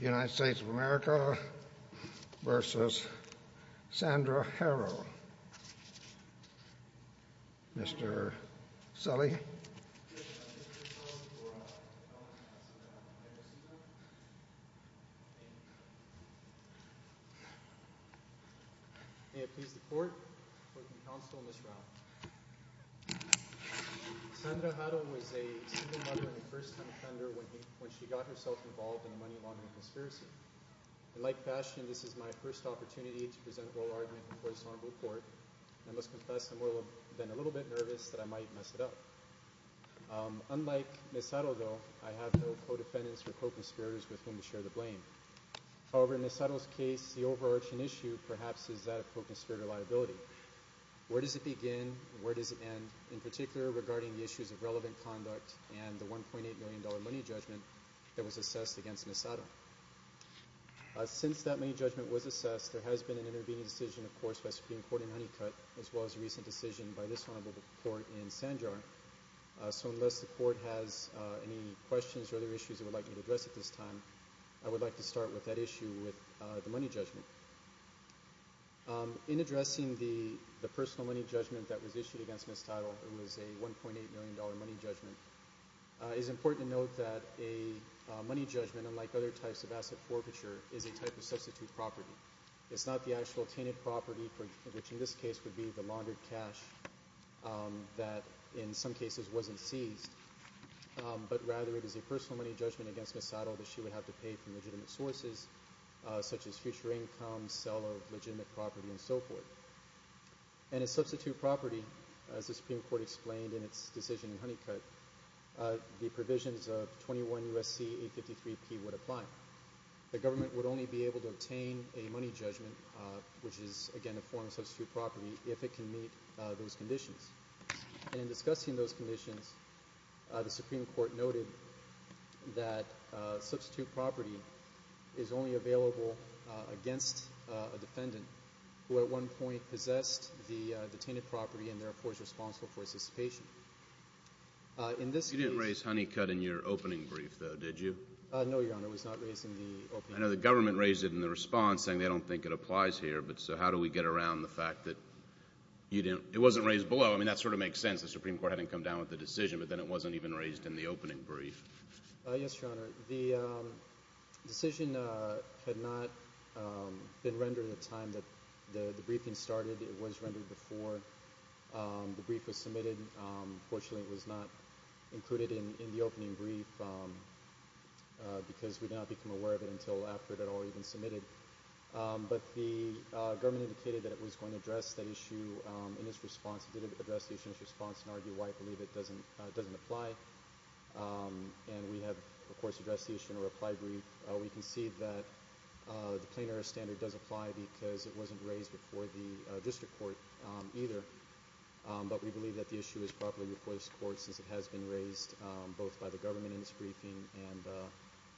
United States of America v. Sandra Haro Mr. Sully May it please the court, the counsel, and Ms. Rao Sandra Haro was a single mother and first-time funder when she got herself involved in a money laundering conspiracy. In like fashion, this is my first opportunity to present a oral argument before this honorable court. I must confess that I have been a little bit nervous that I might mess it up. Unlike Ms. Haro, though, I have no co-defendants or co-conspirators with whom to share the blame. However, in Ms. Haro's case, the overarching issue, perhaps, is that of co-conspirator liability. Where does it begin and where does it end, in particular regarding the issues of relevant conduct and the $1.8 million money judgment that was assessed against Ms. Haro? Since that money judgment was assessed, there has been an intervening decision, of course, by Supreme Court in Honeycutt as well as a recent decision by this honorable court in Sanjar. So unless the court has any questions or other issues it would like me to address at this time, I would like to start with that issue with the money judgment. In addressing the personal money judgment that was issued against Ms. Tittle, it was a $1.8 million money judgment. It is important to note that a money judgment, unlike other types of asset forfeiture, is a type of substitute property. It is not the actual tainted property, which in this case would be the laundered cash that in some cases wasn't seized, but rather it is a personal money judgment against Ms. Tittle that she would have to pay for legitimate sources such as future income, sale of legitimate property, and so forth. And a substitute property, as the Supreme Court explained in its decision in Honeycutt, the provisions of 21 U.S.C. 853P would apply. The government would only be able to obtain a money judgment, which is, again, a form of substitute property, if it can meet those conditions. And in discussing those conditions, the Supreme Court noted that substitute property is only available against a defendant who at one point possessed the tainted property and therefore is responsible for his dissipation. You didn't raise Honeycutt in your opening brief, though, did you? No, Your Honor, I was not raising the opening brief. I know the government raised it in the response, saying they don't think it applies here, but so how do we get around the fact that it wasn't raised below? I mean, that sort of makes sense. The Supreme Court hadn't come down with the decision, but then it wasn't even raised in the opening brief. Yes, Your Honor. The decision had not been rendered at a time that the briefing started. It was rendered before the brief was submitted. Fortunately, it was not included in the opening brief because we did not become aware of it until after it had already been submitted. But the government indicated that it was going to address that issue in its response. It did address the issue in its response and argue why it doesn't apply. And we have, of course, addressed the issue in a reply brief. We concede that the plain-error standard does apply because it wasn't raised before the district court either. But we believe that the issue is properly reported to the court since it has been raised both by the government in its briefing and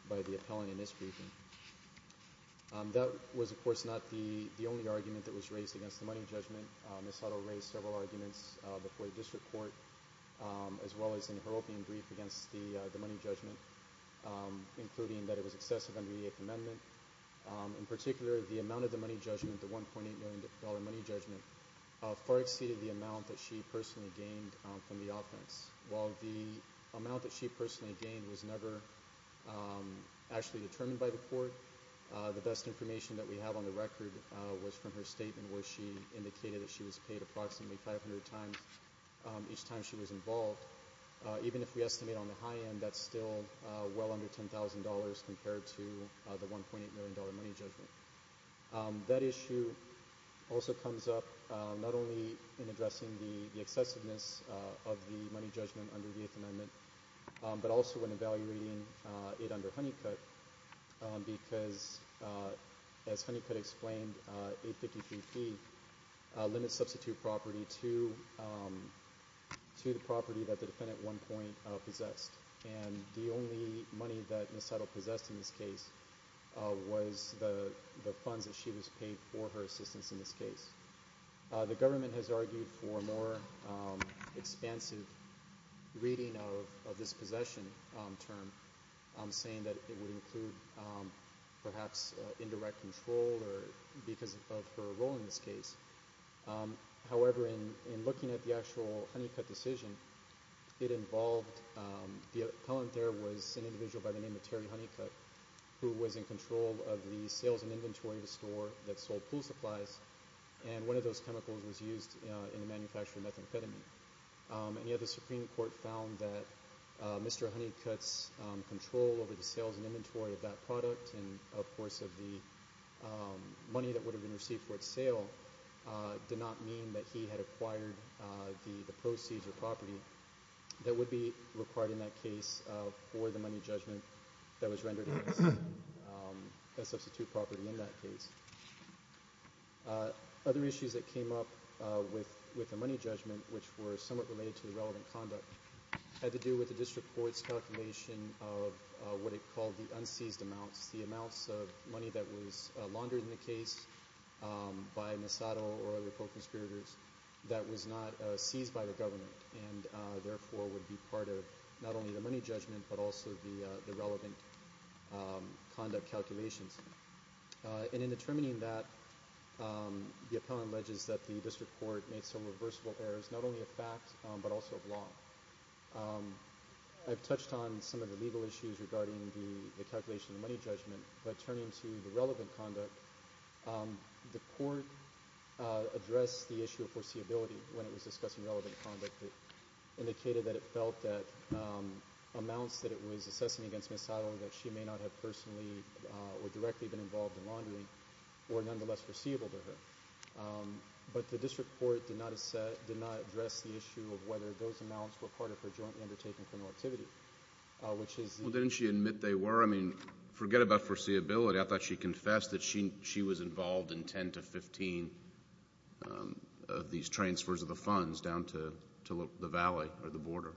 by the appellant in this briefing. That was, of course, not the only argument that was raised against the money judgment. Ms. Soto raised several arguments before the district court as well as in her opening brief against the money judgment, including that it was excessive under the Eighth Amendment. In particular, the amount of the money judgment, the $1.8 million money judgment, far exceeded the amount that she personally gained from the offense. While the amount that she personally gained was never actually determined by the court, the best information that we have on the record was from her statement where she indicated that she was paid approximately 500 times each time she was involved. Even if we estimate on the high end, that's still well under $10,000 compared to the $1.8 million money judgment. That issue also comes up not only in addressing the excessiveness of the money judgment under the Eighth Amendment, but also in evaluating it under Honeycutt because, as Honeycutt explained, 853P limits substitute property to the property that the defendant at one point possessed. The only money that Ms. Soto possessed in this case was the funds that she was paid for her assistance in this case. The government has argued for a more expansive reading of this possession term, saying that it would include perhaps indirect control because of her role in this case. However, in looking at the actual Honeycutt decision, the appellant there was an individual by the name of Terry Honeycutt, who was in control of the sales and inventory of the store that sold pool supplies, and one of those chemicals was used in the manufacture of methamphetamine. The Supreme Court found that Mr. Honeycutt's control over the sales and inventory of that product and, of course, of the money that would have been received for its sale, did not mean that he had acquired the proceeds or property that would be required in that case for the money judgment that was rendered against the substitute property in that case. Other issues that came up with the money judgment, which were somewhat related to the relevant conduct, had to do with the district court's calculation of what it called the unseized amounts, the amounts of money that was laundered in the case by Misato or other pro-conspirators that was not seized by the government and therefore would be part of not only the money judgment but also the relevant conduct calculations. And in determining that, the appellant alleges that the district court made some reversible errors, not only of fact but also of law. I've touched on some of the legal issues regarding the calculation of the money judgment, but turning to the relevant conduct, the court addressed the issue of foreseeability when it was discussing relevant conduct. It indicated that it felt that amounts that it was assessing against Misato knowing that she may not have personally or directly been involved in laundering were nonetheless foreseeable to her. But the district court did not address the issue of whether those amounts were part of her jointly undertaken criminal activity, which is the- Well, didn't she admit they were? I mean, forget about foreseeability. I thought she confessed that she was involved in 10 to 15 of these transfers of the funds down to the valley or the border.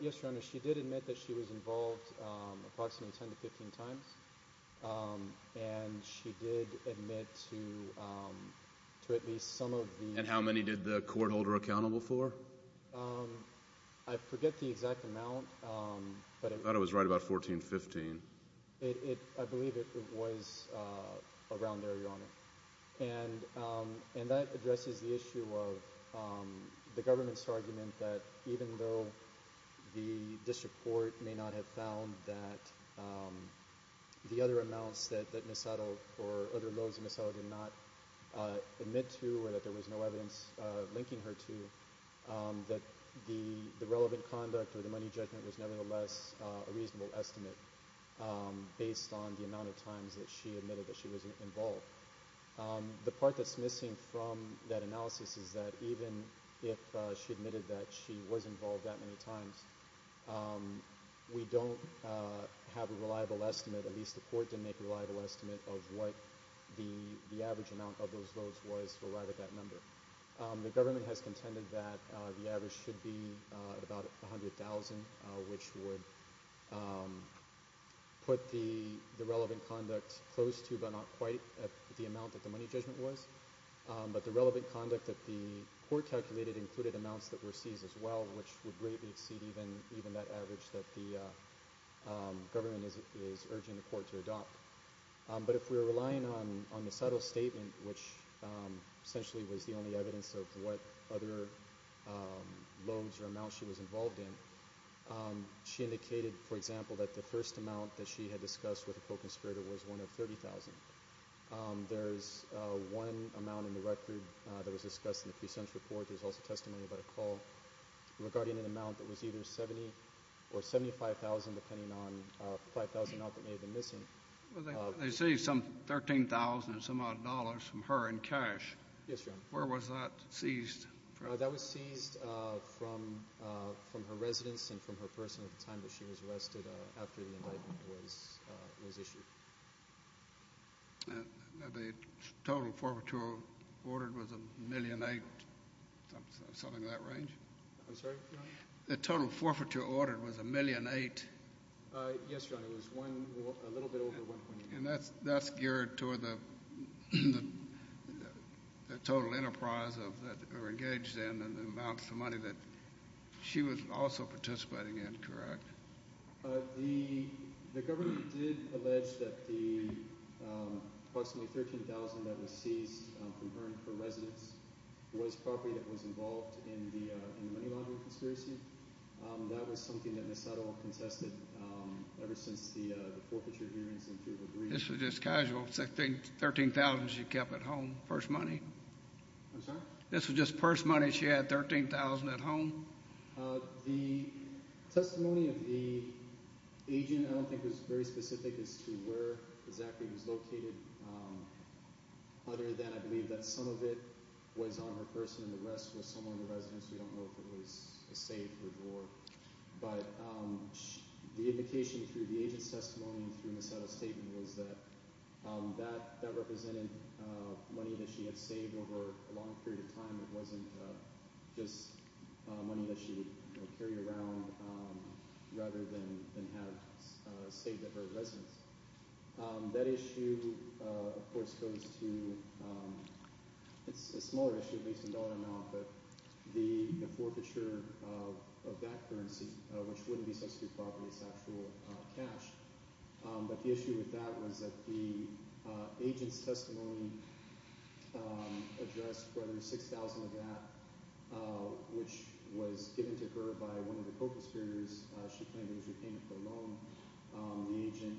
Yes, Your Honor. She did admit that she was involved approximately 10 to 15 times. And she did admit to at least some of the- And how many did the court hold her accountable for? I forget the exact amount. I thought it was right about 14, 15. I believe it was around there, Your Honor. And that addresses the issue of the government's argument that even though the district court may not have found that the other amounts that Misato or other loans that Misato did not admit to or that there was no evidence linking her to, that the relevant conduct or the money judgment was nevertheless a reasonable estimate based on the amount of times that she admitted that she was involved. The part that's missing from that analysis is that even if she admitted that she was involved that many times, we don't have a reliable estimate, at least the court didn't make a reliable estimate, of what the average amount of those loans was for that number. The government has contended that the average should be about 100,000, which would put the relevant conduct close to, but not quite, the amount that the money judgment was. But the relevant conduct that the court calculated included amounts that were seized as well, which would greatly exceed even that average that the government is urging the court to adopt. But if we're relying on Misato's statement, which essentially was the only evidence of what other loans or amounts she was involved in, she indicated, for example, that the first amount that she had discussed with a co-conspirator was one of 30,000. There's one amount in the record that was discussed in the pre-sentence report. There's also testimony about a call regarding an amount that was either 70 or 75,000, depending on the 5,000 that may have been missing. They seized some 13,000 and some odd dollars from her in cash. Yes, Your Honor. Where was that seized? That was seized from her residence and from her person at the time that she was arrested after the indictment was issued. The total forfeiture ordered was a million eight, something of that range? I'm sorry, Your Honor? The total forfeiture ordered was a million eight. Yes, Your Honor. It was a little bit over 1.8 million. And that's geared toward the total enterprise that we're engaged in and the amounts of money that she was also participating in, correct? The government did allege that the approximately 13,000 that was seized from her and her residence was property that was involved in the money laundering conspiracy. That was something that Ms. Suttle contested ever since the forfeiture hearings in February. This was just casual, 13,000 she kept at home, purse money? I'm sorry? This was just purse money she had, 13,000 at home? The testimony of the agent I don't think was very specific as to where exactly it was located, other than I believe that some of it was on her person and the rest was somewhere in the residence. We don't know if it was a safe or a drawer. But the indication through the agent's testimony and through Ms. Suttle's statement was that that represented money that she had saved over a long period of time. It wasn't just money that she would carry around rather than have saved at her residence. That issue, of course, goes to – it's a smaller issue, at least in dollar amount, but the forfeiture of that currency, which wouldn't be substitute property, it's actual cash. But the issue with that was that the agent's testimony addressed whether 6,000 of that, which was given to her by one of the co-conspirators. She claimed it was repayment for a loan. The agent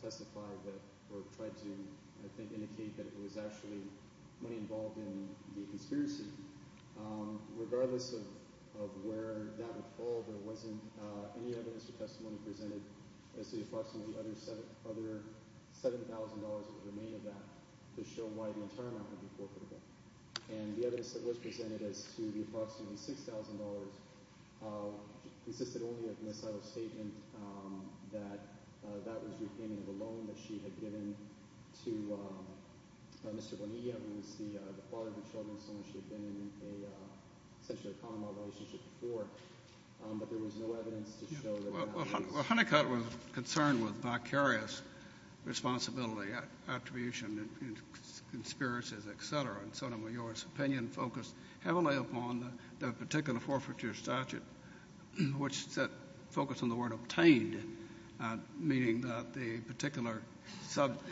testified that – or tried to, I think, indicate that it was actually money involved in the conspiracy. Regardless of where that would fall, there wasn't any evidence or testimony presented as to the approximately other $7,000 that would remain of that to show why the entire amount would be forfeitable. And the evidence that was presented as to the approximately $6,000 consisted only of Ms. Suttle's statement that that was repayment of a loan that she had given to Mr. Bonilla, who was the father of the children, so she had been in a – essentially a common-law relationship before. But there was no evidence to show that that was the case. Well, Honeycutt was concerned with vicarious responsibility, attribution, conspiracies, et cetera. And Sotomayor's opinion focused heavily upon the particular forfeiture statute, which focused on the word obtained, meaning that the particular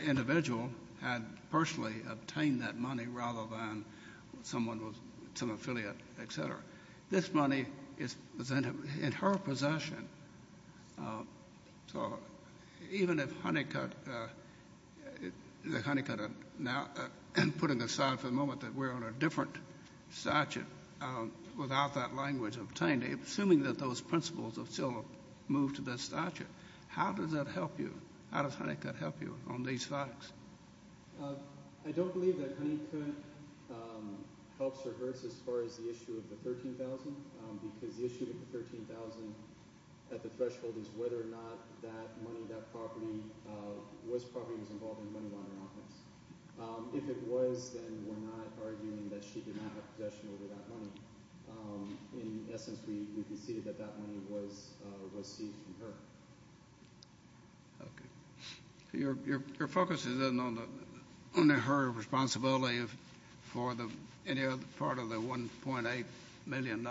individual had personally obtained that money rather than someone with some affiliate, et cetera. This money is presented in her possession. So even if Honeycutt – if Honeycutt now – putting aside for the moment that we're on a different statute without that language obtained, assuming that those principles have still moved to that statute, how does that help you? How does Honeycutt help you on these facts? I don't believe that Honeycutt helps or hurts as far as the issue of the $13,000, because the issue of the $13,000 at the threshold is whether or not that money, that property, was property that was involved in the money laundering offense. If it was, then we're not arguing that she did not have possession over that money. In essence, we conceded that that money was received from her. Okay. So your focus is then on her responsibility for any part of the $1.8 million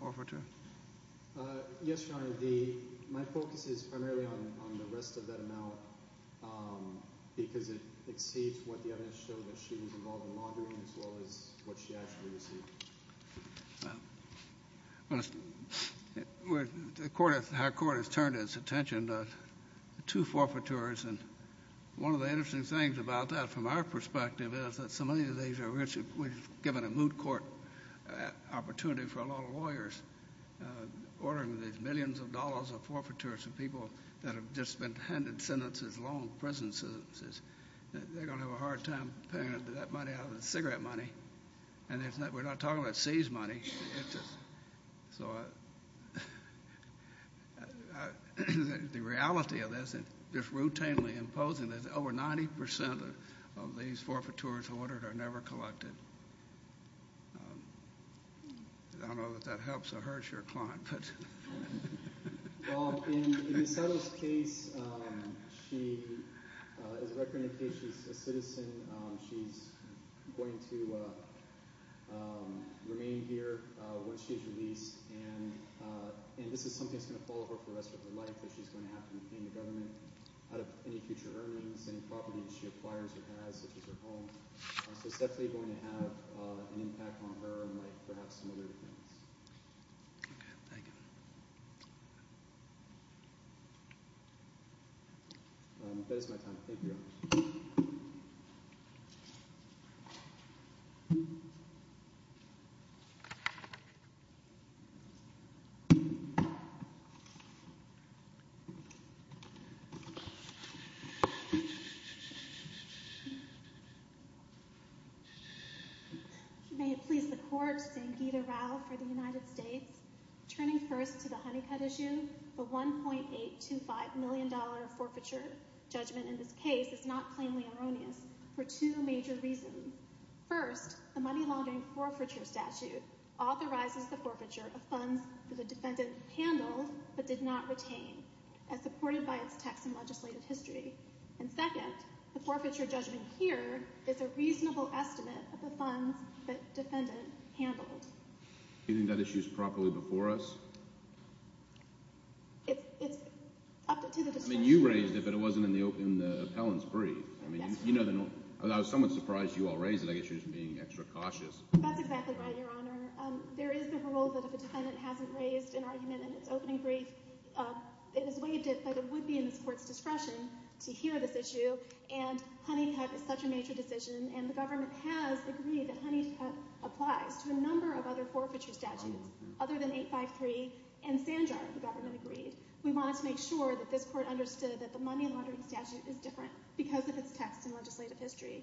forfeiture? Yes, Your Honor. My focus is primarily on the rest of that amount, because it exceeds what the evidence showed that she was involved in the laundering as well as what she actually received. Well, the court – how court has turned its attention to two forfeitors, and one of the interesting things about that from our perspective is that so many of these are rich. We've given a moot court opportunity for a lot of lawyers ordering these millions of dollars of forfeitors and people that have just been handed sentences, long prison sentences. They're going to have a hard time paying that money out of the cigarette money. And we're not talking about seized money. The reality of this, just routinely imposing this, over 90% of these forfeitors ordered are never collected. I don't know if that helps or hurts your client. Well, in Ms. Sutter's case, as a record indication, she's a citizen. She's going to remain here once she's released, and this is something that's going to follow her for the rest of her life. She's going to have to repay the government out of any future earnings, any property that she acquires or has, such as her home. So it's definitely going to have an impact on her and perhaps some other things. Okay. Thank you. That is my time. Thank you. Thank you. May it please the court, Sangita Rao for the United States. Turning first to the Honeycutt issue, the $1.825 million forfeiture judgment in this case is not plainly erroneous for two major reasons. First, the money laundering forfeiture statute authorizes the forfeiture of funds that the defendant handled but did not retain, as supported by its text in legislative history. And second, the forfeiture judgment here is a reasonable estimate of the funds that defendant handled. Do you think that issue is properly before us? It's up to the district. I mean, you raised it, but it wasn't in the appellant's brief. I mean, you know the norm. I was somewhat surprised you all raised it. I guess you're just being extra cautious. That's exactly right, Your Honor. There is the rule that if a defendant hasn't raised an argument in its opening brief, it is waived it, but it would be in this court's discretion to hear this issue, and Honeycutt is such a major decision, and the government has agreed that Honeycutt applies to a number of other forfeiture statutes other than 853 and Sanjar, the government agreed. We wanted to make sure that this court understood that the money laundering statute is different because of its text in legislative history.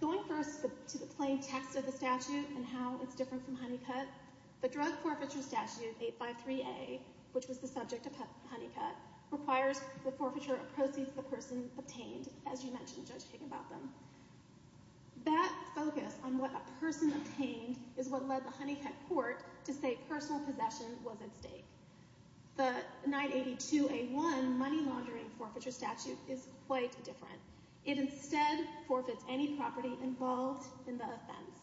Going first to the plain text of the statute and how it's different from Honeycutt, the drug forfeiture statute, 853A, which was the subject of Honeycutt, requires the forfeiture of proceeds the person obtained, as you mentioned, Judge King, about them. That focus on what a person obtained is what led the Honeycutt court to say personal possession was at stake. The 982A1 money laundering forfeiture statute is quite different. It instead forfeits any property involved in the offense.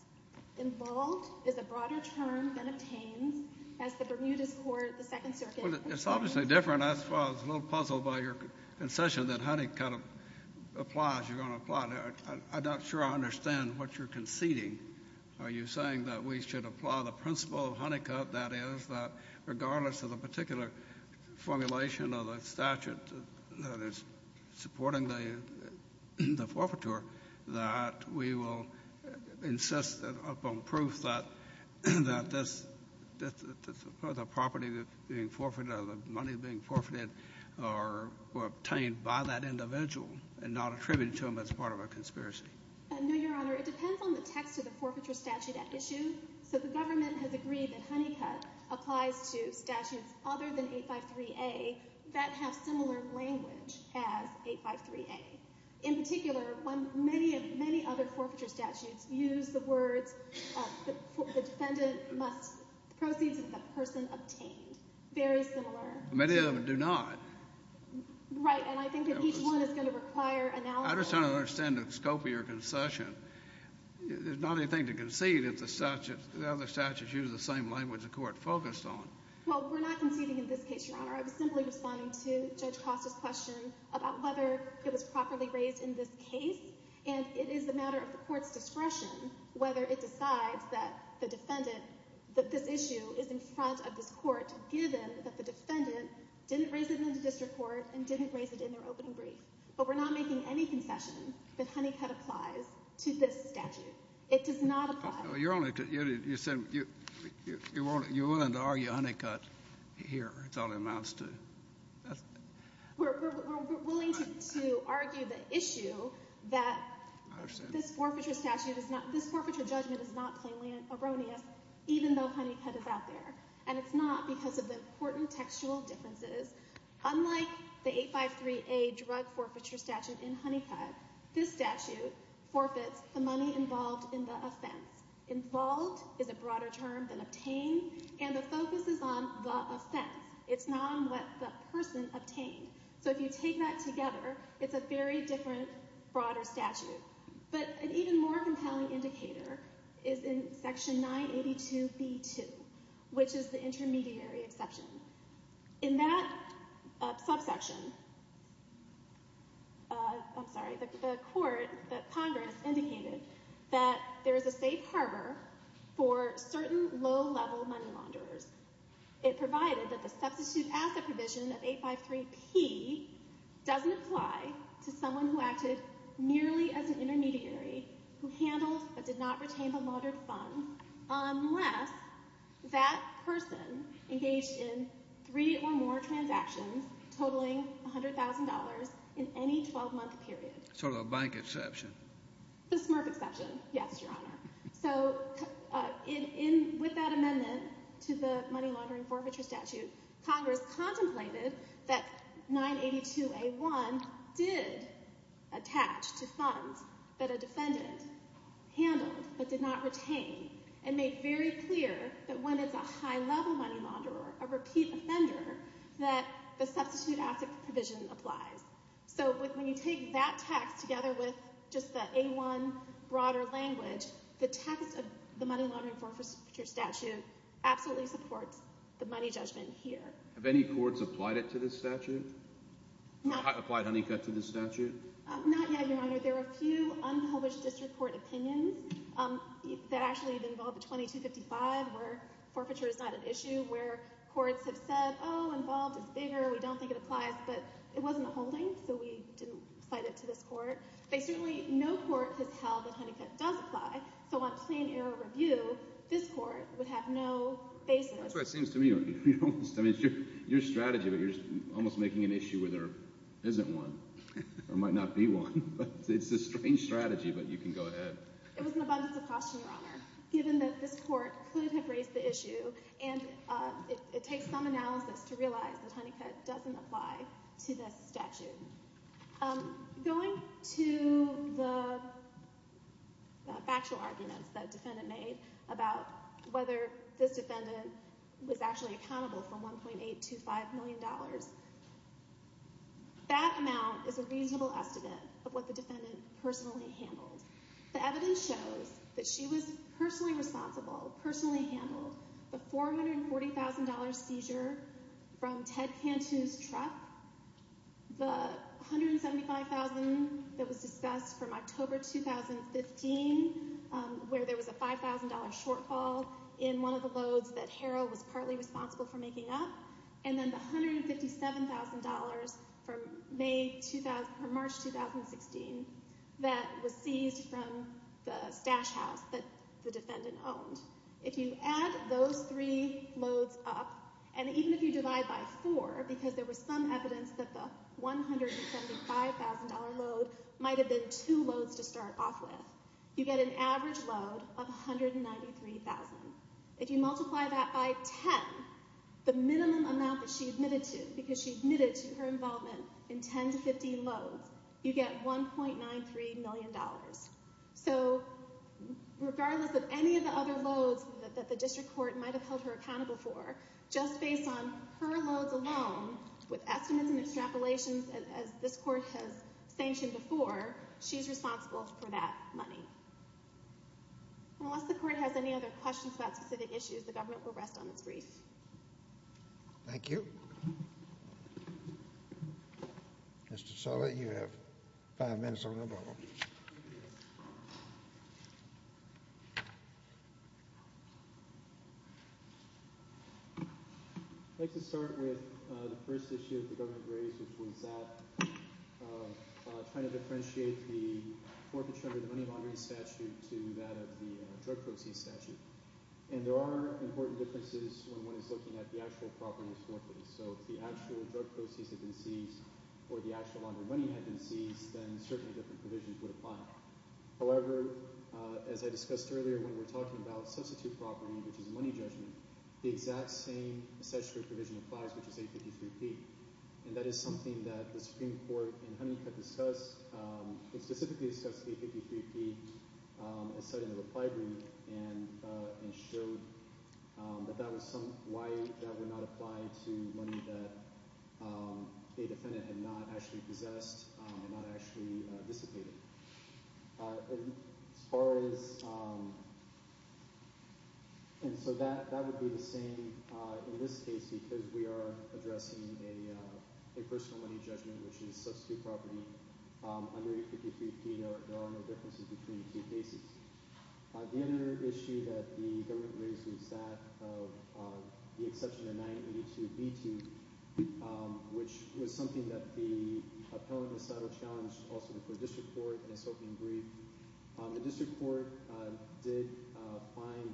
Involved is a broader term than obtains, as the Bermudas court, the Second Circuit. It's obviously different. I was a little puzzled by your concession that Honeycutt applies. You're going to apply it. I'm not sure I understand what you're conceding. Are you saying that we should apply the principle of Honeycutt, that is, that regardless of the particular formulation of the statute that is supporting the forfeiture, that we will insist upon proof that the property being forfeited or the money being forfeited were obtained by that individual and not attributed to them as part of a conspiracy? No, Your Honor. It depends on the text of the forfeiture statute at issue. So the government has agreed that Honeycutt applies to statutes other than 853A that have similar language as 853A. In particular, many other forfeiture statutes use the words, the defendant must proceed to the person obtained. Very similar. Many of them do not. Right. And I think that each one is going to require analysis. I'm just trying to understand the scope of your concession. There's not anything to concede if the other statutes use the same language the Court focused on. Well, we're not conceding in this case, Your Honor. I was simply responding to Judge Cross's question about whether it was properly raised in this case, and it is a matter of the Court's discretion whether it decides that the defendant, that this issue is in front of this Court, given that the defendant didn't raise it in the district court and didn't raise it in their opening brief. But we're not making any concession that Honeycutt applies to this statute. It does not apply. You're willing to argue Honeycutt here. It's all it amounts to. We're willing to argue the issue that this forfeiture statute is not – this forfeiture judgment is not plainly erroneous, even though Honeycutt is out there. And it's not because of the important textual differences. Unlike the 853A drug forfeiture statute in Honeycutt, this statute forfeits the money involved in the offense. Involved is a broader term than obtained, and the focus is on the offense. It's not on what the person obtained. So if you take that together, it's a very different, broader statute. But an even more compelling indicator is in Section 982B2, which is the intermediary exception. In that subsection, I'm sorry, the court, the Congress, indicated that there is a safe harbor for certain low-level money launderers. It provided that the substitute asset provision of 853P doesn't apply to someone who acted nearly as an intermediary, who handled but did not retain the laundered funds, unless that person engaged in three or more transactions totaling $100,000 in any 12-month period. So a bank exception. A SMRF exception, yes, Your Honor. So with that amendment to the money laundering forfeiture statute, Congress contemplated that 982A1 did attach to funds that a defendant handled but did not retain, and made very clear that when it's a high-level money launderer, a repeat offender, that the substitute asset provision applies. So when you take that text together with just the A1 broader language, the text of the money laundering forfeiture statute absolutely supports the money judgment here. Have any courts applied it to this statute? Applied Honeycutt to this statute? Not yet, Your Honor. There are a few unpublished district court opinions that actually involve the 2255, where forfeiture is not an issue, where courts have said, oh, involved is bigger, we don't think it applies, but it wasn't a holding, so we didn't cite it to this court. Basically, no court has held that Honeycutt does apply, so on plain error review, this court would have no basis. That's what it seems to me. I mean, it's your strategy, but you're almost making an issue where there isn't one, or might not be one. It's a strange strategy, but you can go ahead. It was an abundance of caution, Your Honor, given that this court could have raised the issue, and it takes some analysis to realize that Honeycutt doesn't apply to this statute. Going to the factual arguments that the defendant made about whether this defendant was actually accountable for $1.825 million, that amount is a reasonable estimate of what the defendant personally handled. The evidence shows that she was personally responsible, personally handled the $440,000 seizure from Ted Cantu's truck, the $175,000 that was discussed from October 2015, where there was a $5,000 shortfall in one of the loads that Harrell was partly responsible for making up, and then the $157,000 from March 2016 that was seized from the stash house that the defendant owned. If you add those three loads up, and even if you divide by four, because there was some evidence that the $175,000 load might have been two loads to start off with, you get an average load of $193,000. If you multiply that by 10, the minimum amount that she admitted to, because she admitted to her involvement in 10 to 15 loads, you get $1.93 million. So regardless of any of the other loads that the district court might have held her accountable for, just based on her loads alone, with estimates and extrapolations as this court has sanctioned before, she's responsible for that money. Unless the court has any other questions about specific issues, the government will rest on its brief. Thank you. Mr. Sulla, you have five minutes on the bubble. I'd like to start with the first issue that the government raised, which was that trying to differentiate the forfeiture under the money laundering statute to that of the drug proceeds statute. And there are important differences when one is looking at the actual property misforfeits. So if the actual drug proceeds had been seized or the actual laundering money had been seized, then certainly different provisions would apply. However, as I discussed earlier, when we're talking about substitute property, which is money judgment, the exact same statutory provision applies, which is 853P. And that is something that the Supreme Court in Hunnicutt discussed. It specifically discussed 853P and cited in the reply brief and showed that that was something that would not apply to money that a defendant had not actually possessed and not actually dissipated. And so that would be the same in this case because we are addressing a personal money judgment, which is substitute property under 853P. There are no differences between the two cases. The other issue that the government raised was that of the exception of 982B2, which was something that the appellant, Ms. Haddo, challenged also before the district court in its opening brief. The district court did find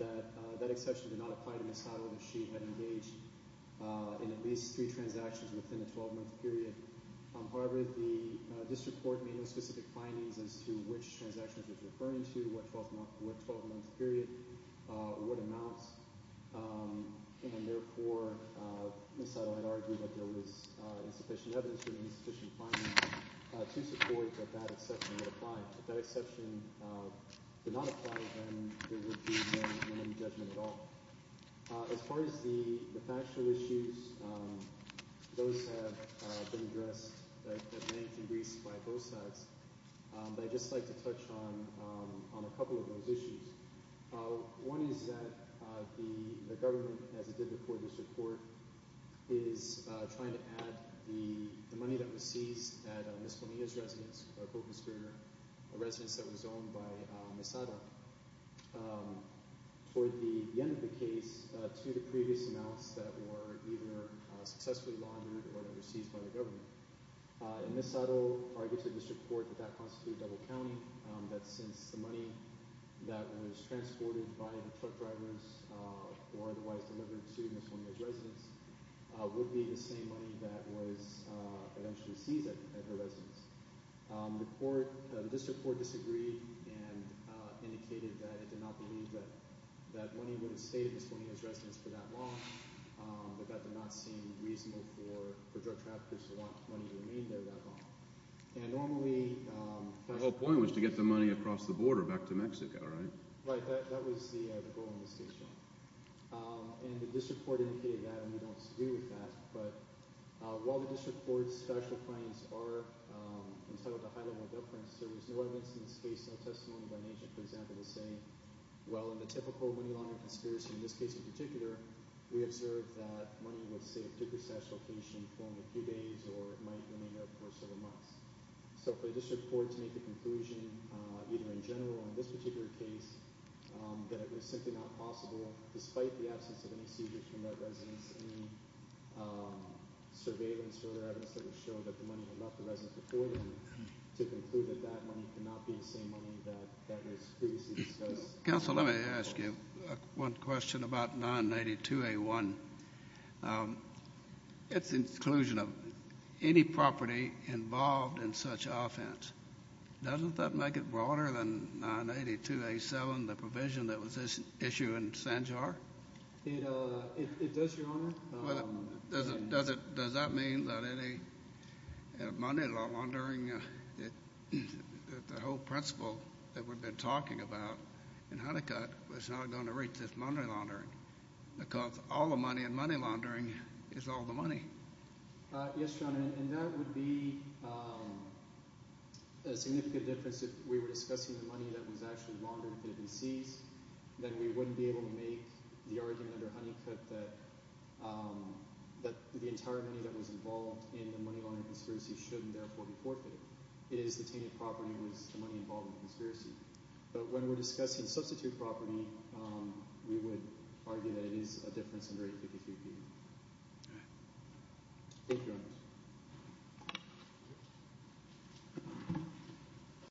that that exception did not apply to Ms. Haddo if she had engaged in at least three transactions within a 12-month period. However, the district court made no specific findings as to which transactions it was referring to, what 12-month period, what amounts. And therefore, Ms. Haddo had argued that there was insufficient evidence or insufficient findings to support that that exception would apply. If that exception did not apply, then there would be no money judgment at all. As far as the factual issues, those have been addressed at length in briefs by both sides. But I'd just like to touch on a couple of those issues. One is that the government, as it did before this report, is trying to add the money that was seized at Ms. Bonilla's residence, her co-conspirator, a residence that was owned by Ms. Haddo. Toward the end of the case, to the previous amounts that were either successfully laundered or that were seized by the government. And Ms. Haddo argued to the district court that that constituted double counting, that since the money that was transported by truck drivers or otherwise delivered to Ms. Bonilla's residence would be the same money that was eventually seized at her residence. The district court disagreed and indicated that it did not believe that money would have stayed at Ms. Bonilla's residence for that long, that that did not seem reasonable for drug traffickers to want money to remain there that long. And normally… The whole point was to get the money across the border back to Mexico, right? Right. That was the goal of the state's job. And the district court indicated that and we don't disagree with that. But while the district court's statute of claims are entitled to high level of difference, there was no evidence in this case, no testimony by an agent, for example, to say, well, in the typical money laundering conspiracy, in this case in particular, we observed that money would stay at a particular statute of location for only a few days or it might remain there for several months. So for the district court to make the conclusion, either in general or in this particular case, that it was simply not possible, despite the absence of any seizure from that residence, any surveillance or other evidence that would show that the money had left the residence before then, to conclude that that money could not be the same money that was previously disclosed. Counsel, let me ask you one question about 982A1. It's the inclusion of any property involved in such offense. Doesn't that make it broader than 982A7, the provision that was issued in Sanjar? It does, Your Honor. Does that mean that any money laundering, the whole principle that we've been talking about in Honeycutt was not going to reach this money laundering because all the money in money laundering is all the money? Yes, Your Honor, and that would be a significant difference if we were discussing the money that was actually laundered that had been seized. Then we wouldn't be able to make the argument under Honeycutt that the entire money that was involved in the money laundering conspiracy shouldn't therefore be forfeited. It is the tainted property that was the money involved in the conspiracy. But when we're discussing substitute property, we would argue that it is a difference in the rate of 50-50. All right. Thank you, Your Honor.